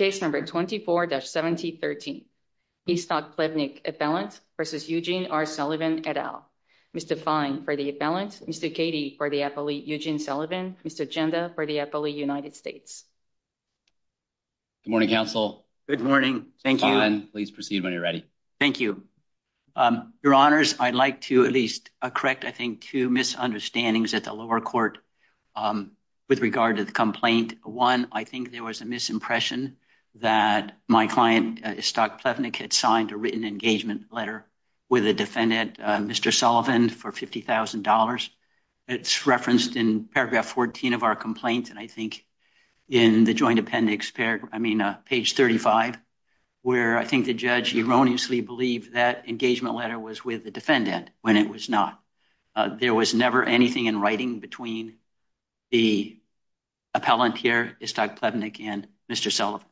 Et al. Mr. Fein for the appellant, Mr. Cady for the appellate Eugene Sullivan, Mr. Janda for the appellate United States. Good morning, counsel. Good morning. Thank you. Please proceed when you're ready. Thank you. Your honors, I'd like to at least correct, I think, two misunderstandings at the lower court with regard to the complaint. One, I think there was a misimpression that the my client, Iztok Plevnik, had signed a written engagement letter with a defendant, Mr. Sullivan, for $50,000. It's referenced in paragraph 14 of our complaint, and I think in the joint appendix, I mean, page 35, where I think the judge erroneously believed that engagement letter was with the defendant when it was not. There was never anything in writing between the appellant here, Iztok Plevnik, and Mr. Sullivan.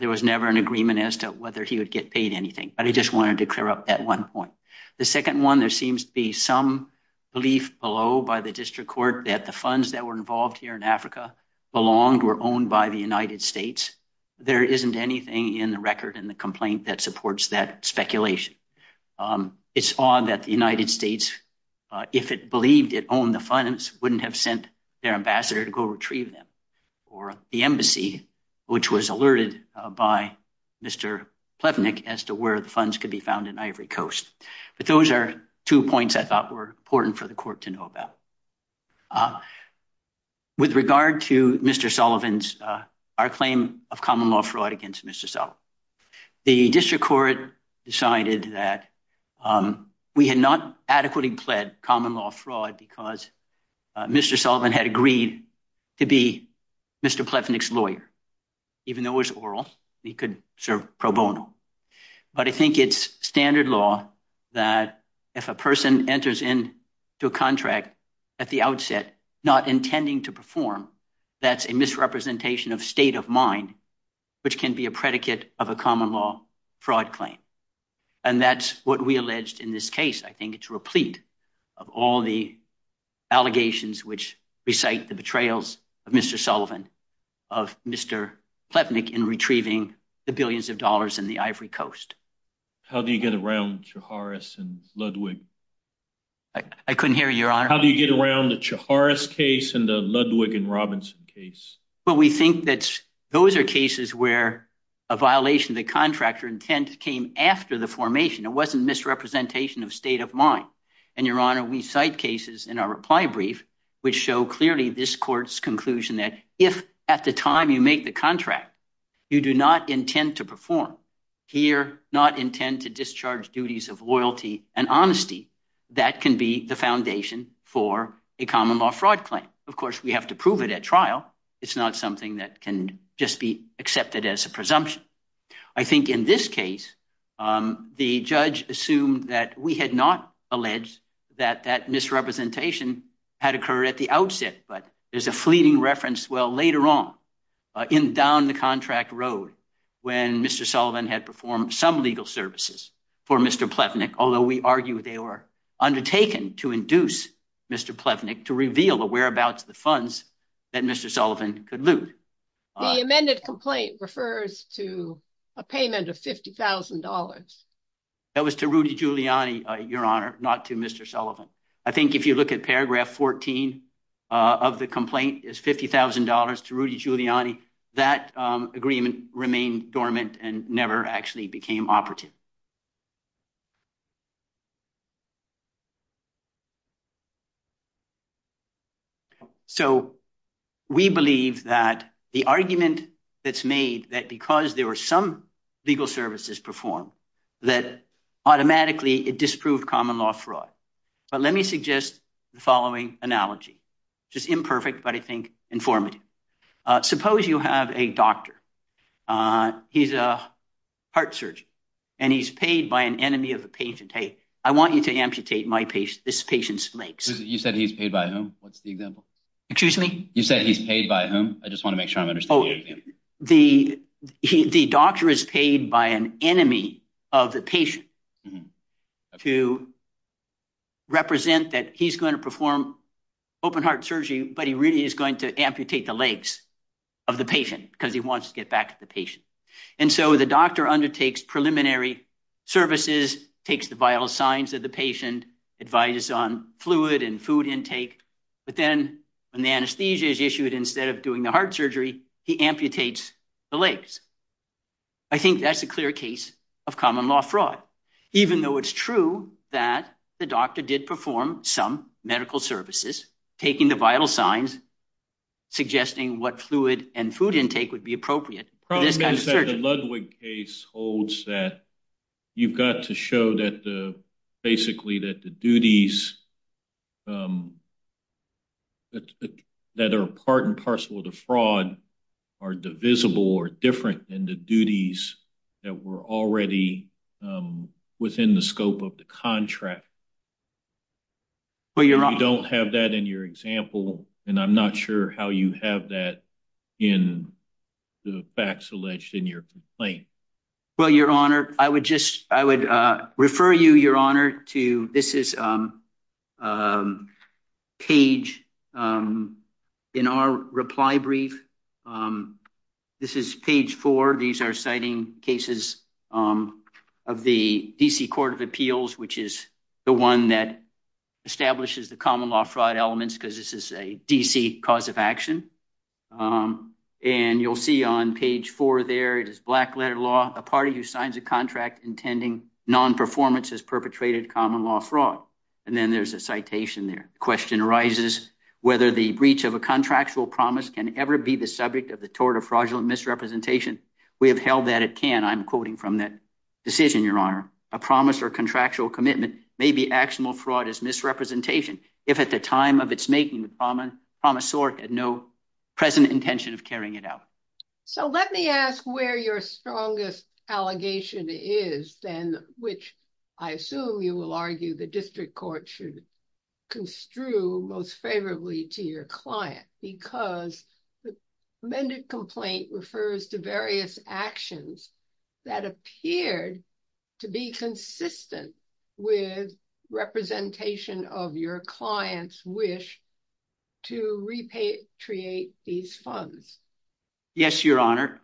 There was never an agreement as to whether he would get paid anything, but I just wanted to clear up that one point. The second one, there seems to be some belief below by the district court that the funds that were involved here in Africa belonged or owned by the United States. There isn't anything in the record in the complaint that supports that speculation. It's odd that the United States, if it believed it owned the funds, wouldn't have sent their ambassador to go retrieve them or the embassy, which was alerted by Mr. Plevnik as to where the funds could be found in Ivory Coast. But those are two points I thought were important for the court to know about. With regard to Mr. Sullivan's, our claim of common law fraud against Mr. Sullivan, the district court decided that we had not adequately pled common law fraud because Mr. Sullivan had agreed to be Mr. Plevnik's lawyer, even though it was oral, he could serve pro bono. But I think it's standard law that if a person enters into a contract at the outset not intending to perform, that's a misrepresentation of state of mind, which can be a predicate of a common law fraud claim. And that's what we alleged in this case. I think it's replete of all the allegations which recite the betrayals of Mr. Plevnik in retrieving the billions of dollars in the Ivory Coast. How do you get around Chiharas and Ludwig? I couldn't hear you, Your Honor. How do you get around the Chiharas case and the Ludwig and Robinson case? Well, we think that those are cases where a violation of the contractor intent came after the formation. It wasn't misrepresentation of state of mind. And, Your Honor, we cite cases in our reply brief, which show clearly this court's conclusion that if at the time you make the contract, you do not intend to perform, here not intend to discharge duties of loyalty and honesty, that can be the foundation for a common law fraud claim. Of course, we have to prove it at trial. It's not something that can just be accepted as a presumption. I think in this case, the judge assumed that we had not alleged that that misrepresentation had occurred at the outset. But there's a fleeting reference. Well, later on in down the contract road, when Mr. Sullivan had performed some legal services for Mr. Plevnik, although we argue they were undertaken to induce Mr. Plevnik to reveal the whereabouts of the funds that Mr. The amended complaint refers to a payment of $50,000. That was to Rudy Giuliani, Your Honor, not to Mr. Sullivan. I think if you look at paragraph 14 of the complaint is $50,000 to Rudy Giuliani. That agreement remained dormant and never actually became operative. So we believe that the argument that's made that because there were some legal services performed that automatically it disproved common law fraud. But let me suggest the following analogy, just imperfect, but I think informative. Suppose you have a doctor. He's a heart surgeon. And he's paid by an enemy of a patient. Hey, I want you to amputate my patient. This patient's legs. You said he's paid by whom? What's the example? Excuse me? You said he's paid by whom? I just want to make sure I'm understanding. The doctor is paid by an enemy of the patient to represent that he's going to perform open heart surgery. But he really is going to amputate the legs of the patient because he wants to get back to the patient. And so the doctor undertakes preliminary services, takes the vital signs of the patient, advises on fluid and food intake. But then when the anesthesia is issued, instead of doing the heart surgery, he amputates the legs. I think that's a clear case of common law fraud, even though it's true that the doctor did perform some medical services, taking the vital signs, suggesting what fluid and food intake would be appropriate. The problem is that the Ludwig case holds that you've got to show that basically that the duties that are part and parcel of the fraud are divisible or different than the duties that were already within the scope of the contract. Well, you don't have that in your example, and I'm not sure how you have that in the facts alleged in your complaint. Well, Your Honor, I would just I would refer you, Your Honor, to this is a page in our reply brief. This is page four. These are citing cases of the D.C. Court of Appeals, which is the one that establishes the common law fraud elements because this is a D.C. cause of action. And you'll see on page four there it is black letter law. A party who signs a contract intending nonperformance has perpetrated common law fraud. And then there's a citation there. The question arises whether the breach of a contractual promise can ever be the subject of the tort of fraudulent misrepresentation. We have held that it can. I'm quoting from that decision, Your Honor. A promise or contractual commitment may be actionable. Fraud is misrepresentation. If at the time of its making, the promisor had no present intention of carrying it out. So let me ask where your strongest allegation is, then, which I assume you will argue the district court should construe most favorably to your client, because the amended complaint refers to various actions that appeared to be consistent with representation of your clients wish to repatriate these funds. Yes, Your Honor.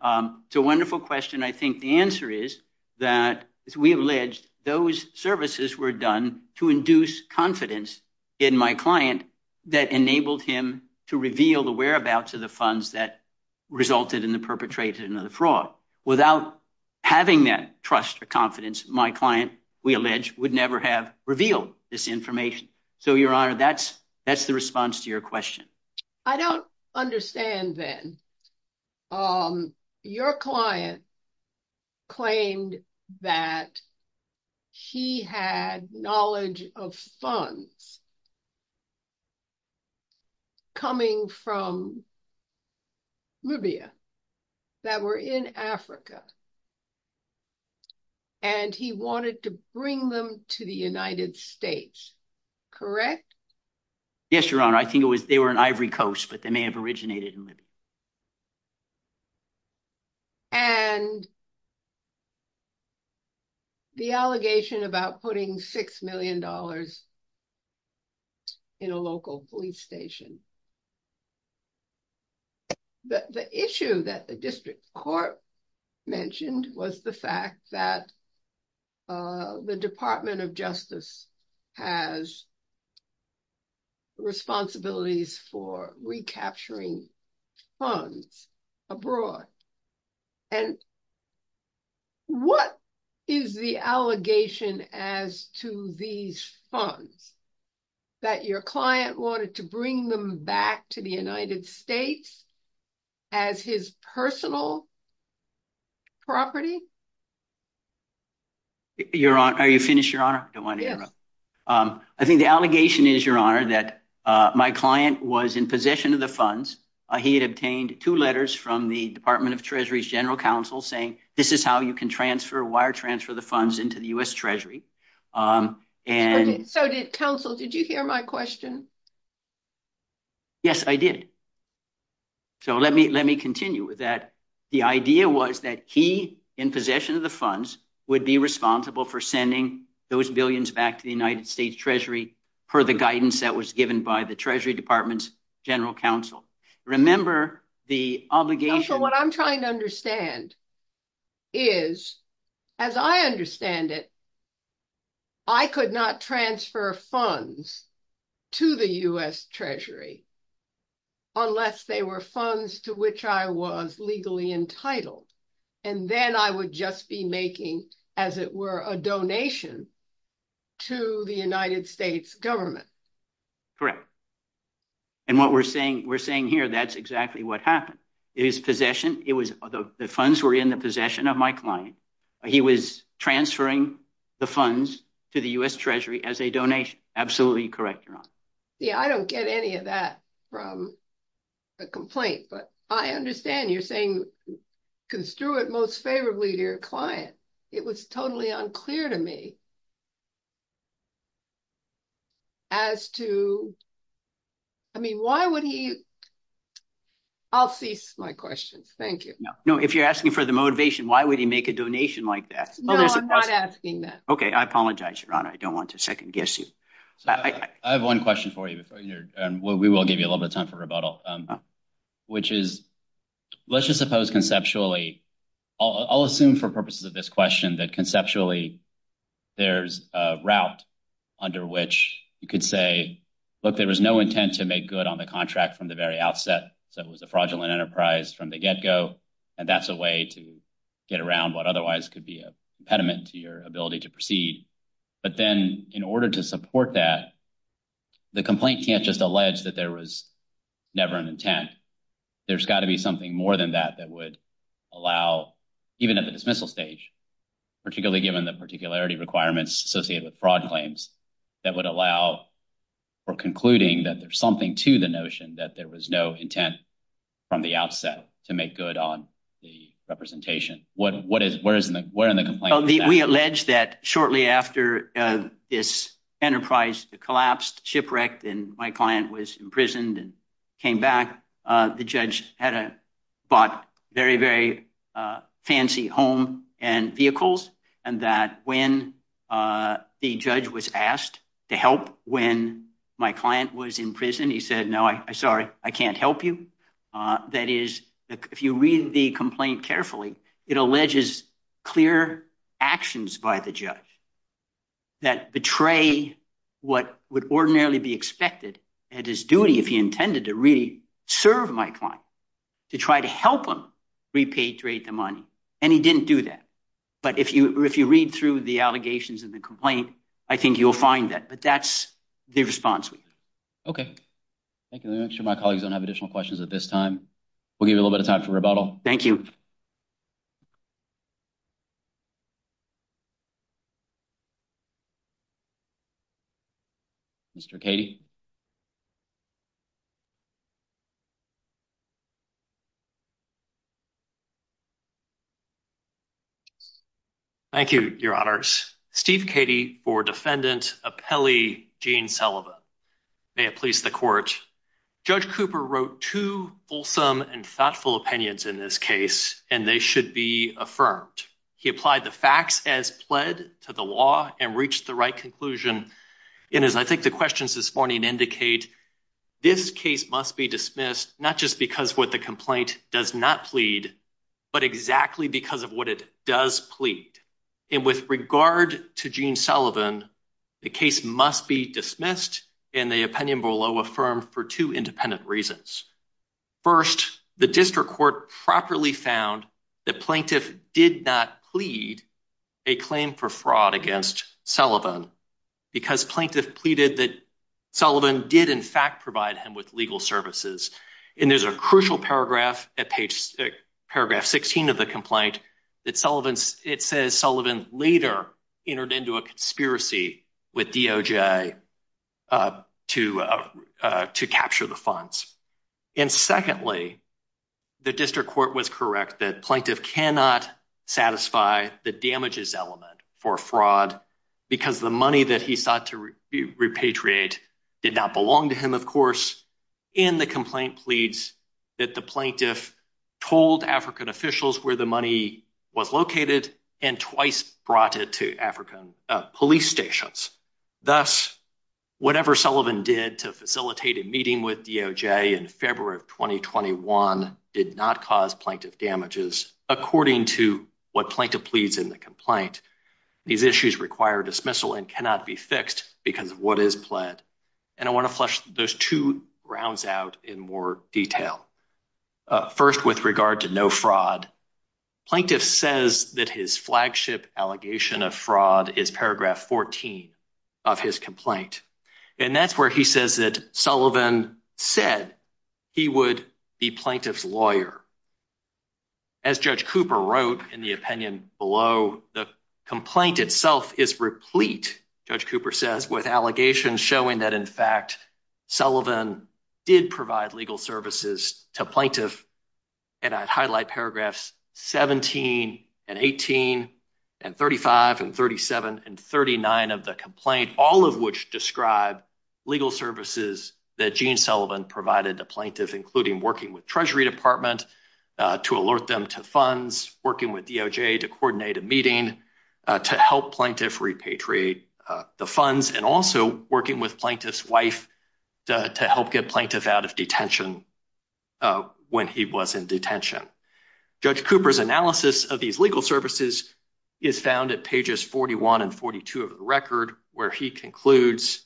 It's a wonderful question. I think the answer is that we allege those services were done to induce confidence in my client that enabled him to reveal the whereabouts of the funds that resulted in the perpetrated another fraud without having that trust or confidence. My client, we allege, would never have revealed this information. So, Your Honor, that's that's the response to your question. I don't understand, then. Your client claimed that he had knowledge of funds. Coming from Libya that were in Africa. And he wanted to bring them to the United States. Correct. Yes, Your Honor, I think it was they were an ivory coast, but they may have originated in Libya. And the allegation about putting six million dollars in a local police station. The issue that the district court mentioned was the fact that the Department of Justice has responsibilities for recapturing funds abroad. And what is the allegation as to these funds that your client wanted to bring them back to the United States as his personal property? Your Honor, are you finished, Your Honor? I don't want to interrupt. I think the allegation is, Your Honor, that my client was in possession of the funds. He had obtained two letters from the Department of Treasury's general counsel saying, this is how you can transfer wire transfer the funds into the U.S. Treasury. And so did counsel. Did you hear my question? Yes, I did. So let me let me continue with that. The idea was that he, in possession of the funds, would be responsible for sending those billions back to the United States Treasury per the guidance that was given by the Treasury Department's general counsel. So what I'm trying to understand is, as I understand it, I could not transfer funds to the U.S. Treasury unless they were funds to which I was legally entitled. And then I would just be making, as it were, a donation to the United States government. Correct. And what we're saying, we're saying here, that's exactly what happened. It is possession. It was the funds were in the possession of my client. He was transferring the funds to the U.S. Treasury as a donation. Absolutely correct, Your Honor. Yeah, I don't get any of that from a complaint. But I understand you're saying construe it most favorably to your client. It was totally unclear to me. As to. I mean, why would he. I'll cease my questions. Thank you. No, if you're asking for the motivation, why would he make a donation like that? No, I'm not asking that. Okay. I apologize, Your Honor. I don't want to second guess you. I have one question for you. We will give you a little bit of time for rebuttal, which is, let's just suppose conceptually. I'll assume for purposes of this question that conceptually there's a route under which you could say, look, there was no intent to make good on the contract from the very outset. So it was a fraudulent enterprise from the get go. And that's a way to get around what otherwise could be a impediment to your ability to proceed. But then in order to support that, the complaint can't just allege that there was never an intent. There's got to be something more than that that would allow even at the dismissal stage, particularly given the particularity requirements associated with fraud claims that would allow for concluding that there's something to the notion that there was no intent from the outset to make good on the representation. We allege that shortly after this enterprise collapsed, shipwrecked, and my client was imprisoned and came back, the judge had bought very, very fancy home and vehicles, and that when the judge was asked to help when my client was in prison, he said, no, I'm sorry, I can't help you. That is, if you read the complaint carefully, it alleges clear actions by the judge that betray what would ordinarily be expected at his duty if he intended to really serve my client, to try to help him repatriate the money. And he didn't do that. But if you read through the allegations and the complaint, I think you'll find that. But that's the response we have. Okay, thank you. Make sure my colleagues don't have additional questions at this time. We'll give you a little bit of time for rebuttal. Thank you. Mr. Katie. Thank you, your honors. Steve Katie for defendant, a Pele, Gene Sullivan. May it please the court. Judge Cooper wrote to fulsome and thoughtful opinions in this case, and they should be affirmed. He applied the facts as pled to the law and reached the right conclusion. And as I think the questions this morning indicate, this case must be dismissed, not just because what the complaint does not plead, but exactly because of what it does plead. And with regard to Gene Sullivan, the case must be dismissed and the opinion below affirm for two independent reasons. First, the district court properly found the plaintiff did not plead a claim for fraud against Sullivan. Because plaintiff pleaded that Sullivan did, in fact, provide him with legal services. And there's a crucial paragraph at page six, paragraph sixteen of the complaint that Sullivan's it says Sullivan later entered into a conspiracy with to to capture the funds. And secondly, the district court was correct that plaintiff cannot satisfy the damages element for fraud because the money that he sought to repatriate did not belong to him. Of course, in the complaint pleads that the plaintiff told African officials where the money was located and twice brought it to African police stations. Thus, whatever Sullivan did to facilitate a meeting with DOJ in February of twenty twenty one did not cause plaintiff damages according to what plaintiff pleads in the complaint. These issues require dismissal and cannot be fixed because of what is pled. And I want to flush those two rounds out in more detail. First, with regard to no fraud, plaintiff says that his flagship allegation of fraud is paragraph fourteen of his complaint. And that's where he says that Sullivan said he would be plaintiff's lawyer. As Judge Cooper wrote in the opinion below, the complaint itself is replete, Judge Cooper says, with allegations showing that, in fact, Sullivan did provide legal services to plaintiff. And I'd highlight paragraphs seventeen and eighteen and thirty five and thirty seven and thirty nine of the complaint, all of which describe legal services that Gene Sullivan provided to plaintiff, including working with Treasury Department to alert them to funds, working with DOJ to coordinate a meeting to help plaintiff repatriate the funds and also working with plaintiff's wife to help get plaintiff out of detention. When he was in detention, Judge Cooper's analysis of these legal services is found at pages forty one and forty two of the record, where he concludes,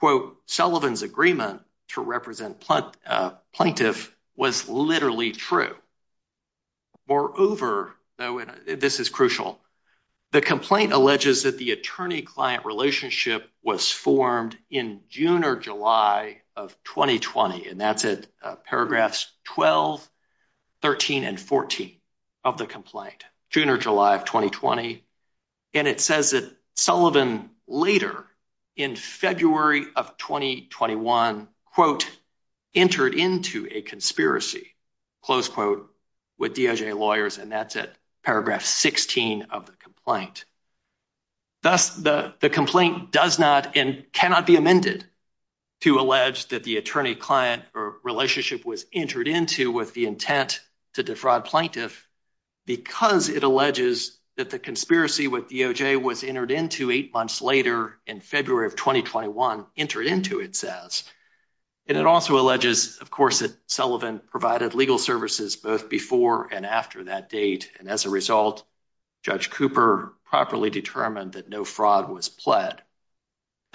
quote, Sullivan's agreement to represent plaintiff was literally true. Moreover, this is crucial. The complaint alleges that the attorney client relationship was formed in June or July of twenty twenty. And that's it. Paragraphs twelve, thirteen and fourteen of the complaint, June or July of twenty twenty. And it says that Sullivan later in February of twenty twenty one, quote, entered into a conspiracy, close quote, with DOJ lawyers. And that's it. Paragraph sixteen of the complaint. Thus, the complaint does not and cannot be amended to allege that the attorney client relationship was entered into with the intent to defraud plaintiff because it alleges that the conspiracy with DOJ was entered into eight months later in February of twenty twenty one entered into, it says. And it also alleges, of course, that Sullivan provided legal services both before and after that date. And as a result, Judge Cooper properly determined that no fraud was pled.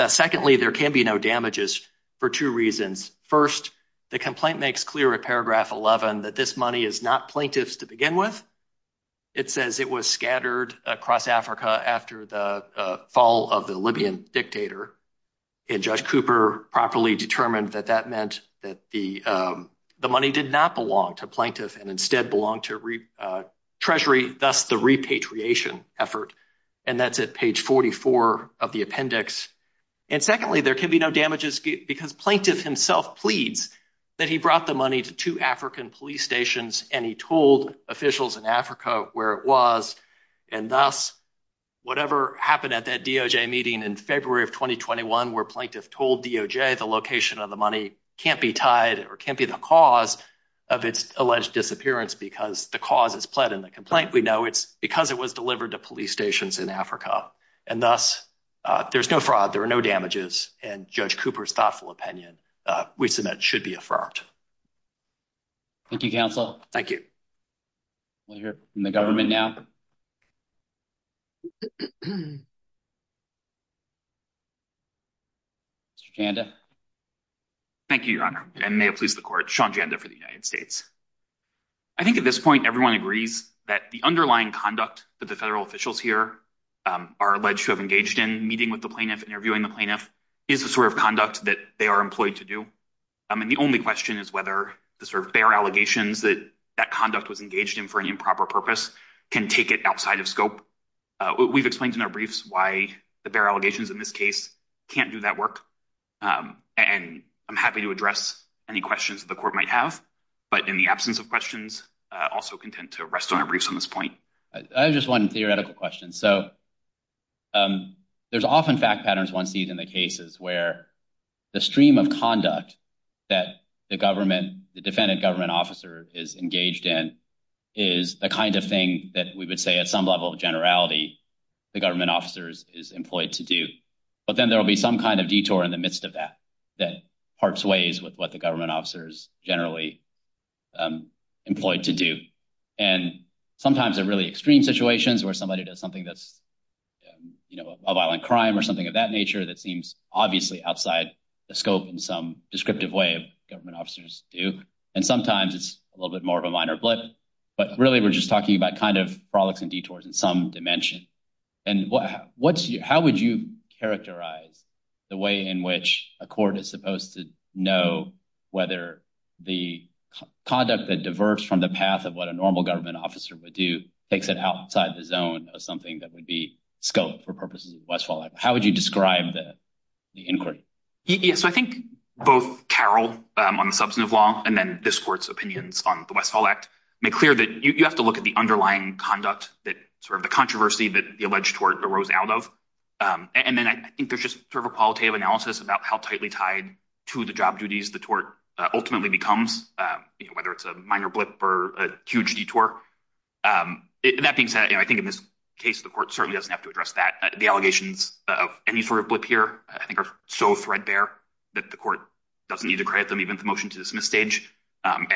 Secondly, there can be no damages for two reasons. First, the complaint makes clear a paragraph eleven that this money is not plaintiffs to begin with. It says it was scattered across Africa after the fall of the Libyan dictator. And Judge Cooper properly determined that that meant that the the money did not belong to plaintiff and instead belong to Treasury, thus the repatriation effort. And that's at page forty four of the appendix. And secondly, there can be no damages because plaintiff himself pleads that he brought the money to two African police stations and he told officials in Africa where it was. And thus, whatever happened at that DOJ meeting in February of twenty twenty one, where plaintiff told DOJ the location of the money can't be tied or can't be the cause of its alleged disappearance because the cause is pled in the complaint. We know it's because it was delivered to police stations in Africa and thus there's no fraud. There are no damages. And Judge Cooper's thoughtful opinion we submit should be affirmed. Thank you, counsel. Thank you. We hear from the government now. Mr. Janda. Thank you, your honor, and may it please the court. Sean Janda for the United States. I think at this point, everyone agrees that the underlying conduct that the federal officials here are alleged to have engaged in meeting with the plaintiff interviewing the plaintiff is the sort of conduct that they are employed to do. I mean, the only question is whether the sort of allegations that that conduct was engaged in for an improper purpose can take it outside of scope. We've explained in our briefs why the allegations in this case can't do that work. And I'm happy to address any questions the court might have. But in the absence of questions, also content to rest on a briefs on this point. I have just one theoretical question. So there's often fact patterns. One sees in the cases where the stream of conduct that the government, the defendant government officer is engaged in is the kind of thing that we would say at some level of generality. The government officers is employed to do. But then there will be some kind of detour in the midst of that that parts ways with what the government officers generally employed to do. And sometimes they're really extreme situations where somebody does something that's a violent crime or something of that nature that seems obviously outside the scope in some descriptive way of government officers do. And sometimes it's a little bit more of a minor blip. But really, we're just talking about kind of products and detours in some dimension. And how would you characterize the way in which a court is supposed to know whether the conduct that diverts from the path of what a normal government officer would do takes it outside the zone of something that would be scope for purposes of Westfall? How would you describe the inquiry? Yes, I think both Carol on the substantive law and then this court's opinions on the Westfall Act make clear that you have to look at the underlying conduct that sort of the controversy that the alleged tort arose out of. And then I think there's just sort of a qualitative analysis about how tightly tied to the job duties the tort ultimately becomes, whether it's a minor blip or a huge detour. That being said, I think in this case, the court certainly doesn't have to address that. The allegations of any sort of blip here I think are so threadbare that the court doesn't need to credit them even the motion to dismiss stage and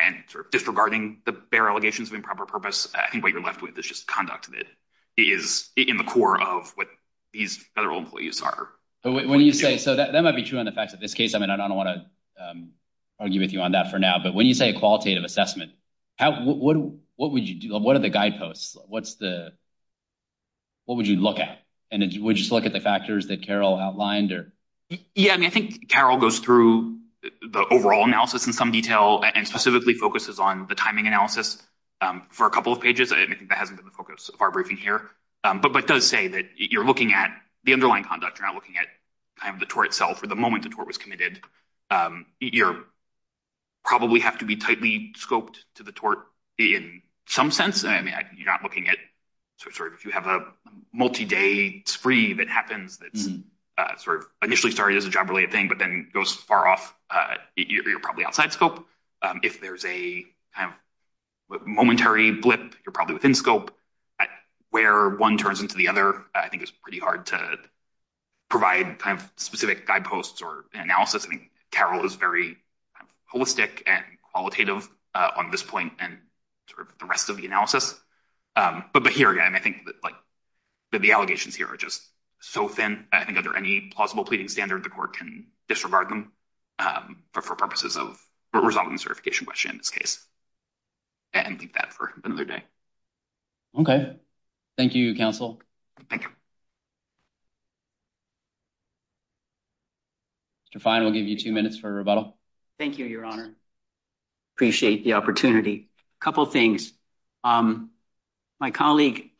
disregarding the bare allegations of improper purpose. I think what you're left with is just conduct that is in the core of what these federal employees are. So that might be true on the facts of this case. I mean, I don't want to argue with you on that for now, but when you say a qualitative assessment, what would you do? What are the guideposts? What would you look at? And would you look at the factors that Carol outlined? Yeah, I mean, I think Carol goes through the overall analysis in some detail and specifically focuses on the timing analysis for a couple of pages. I think that hasn't been the focus of our briefing here, but does say that you're looking at the underlying conduct. You're not looking at the tort itself or the moment the tort was committed. You probably have to be tightly scoped to the tort in some sense. I mean, you're not looking at sort of if you have a multi-day spree that happens that's sort of initially started as a job-related thing but then goes far off. You're probably outside scope. So if there's a momentary blip, you're probably within scope. Where one turns into the other, I think it's pretty hard to provide kind of specific guideposts or analysis. I mean, Carol is very holistic and qualitative on this point and sort of the rest of the analysis. But here again, I think that the allegations here are just so thin. I think under any plausible pleading standard, the court can disregard them for purposes of resolving the certification question in this case. And leave that for another day. Okay. Thank you, counsel. Thank you. Mr. Fine, we'll give you two minutes for rebuttal. Thank you, Your Honor. Appreciate the opportunity. A couple things. My colleague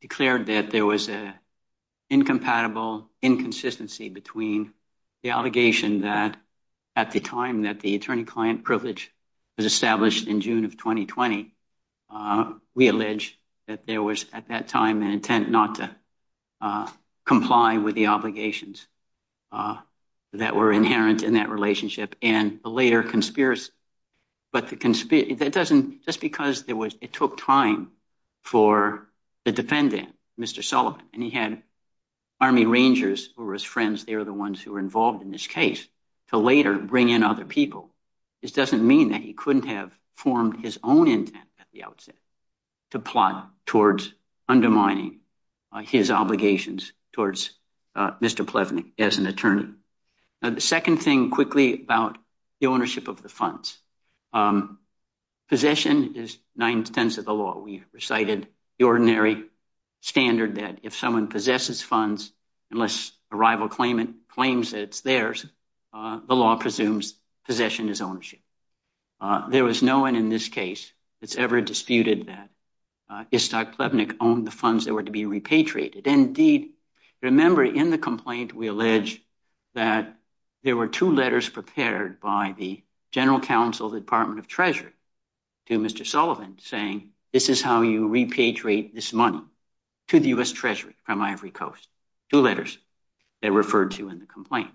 declared that there was an incompatible inconsistency between the allegation that at the time that the attorney-client privilege was established in June of 2020, we allege that there was at that time an intent not to comply with the obligations that were inherent in that relationship. And a later conspiracy. But just because it took time for the defendant, Mr. Sullivan, and he had army rangers who were his friends, they were the ones who were involved in this case, to later bring in other people, this doesn't mean that he couldn't have formed his own intent at the outset to plot towards undermining his obligations towards Mr. Plevenick as an attorney. The second thing, quickly, about the ownership of the funds. Possession is nine-tenths of the law. We recited the ordinary standard that if someone possesses funds, unless a rival claims that it's theirs, the law presumes possession is ownership. There was no one in this case that's ever disputed that Istok Plevenick owned the funds that were to be repatriated. Indeed, remember, in the complaint, we allege that there were two letters prepared by the general counsel of the Department of Treasury to Mr. Sullivan saying, this is how you repatriate this money to the U.S. Treasury from Ivory Coast. Two letters they referred to in the complaint.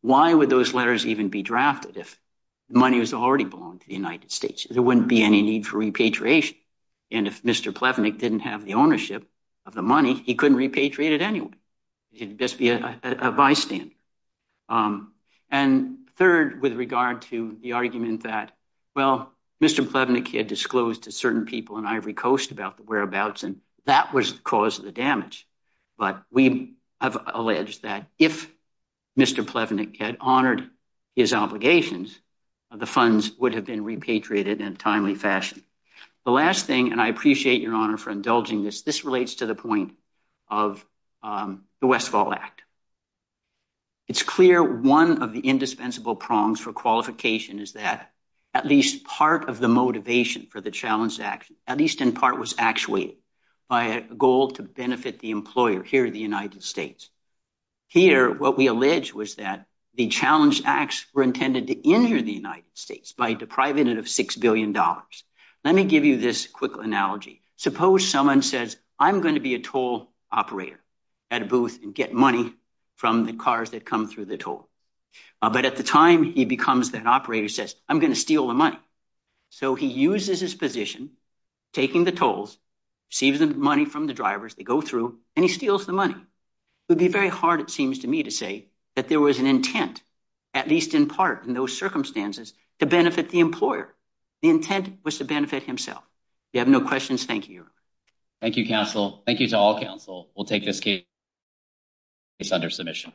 Why would those letters even be drafted if money was already belonged to the United States? There wouldn't be any need for repatriation. And if Mr. Plevenick didn't have the ownership of the money, he couldn't repatriate it anyway. He'd just be a bystander. And third, with regard to the argument that, well, Mr. Plevenick had disclosed to certain people in Ivory Coast about the whereabouts and that was the cause of the damage. But we have alleged that if Mr. Plevenick had honored his obligations, the funds would have been repatriated in a timely fashion. The last thing, and I appreciate your honor for indulging this, this relates to the point of the Westfall Act. It's clear one of the indispensable prongs for qualification is that at least part of the motivation for the challenge, at least in part was actuated by a goal to benefit the employer here in the United States. Here, what we allege was that the challenge acts were intended to injure the United States by depriving it of six billion dollars. Let me give you this quick analogy. Suppose someone says, I'm going to be a toll operator at a booth and get money from the cars that come through the toll. But at the time he becomes that operator says, I'm going to steal the money. So he uses his position, taking the tolls, receiving the money from the drivers, they go through and he steals the money. It would be very hard, it seems to me to say, that there was an intent, at least in part in those circumstances, to benefit the employer. The intent was to benefit himself. You have no questions. Thank you. Thank you, counsel. Thank you to all counsel. We'll take this case under submission.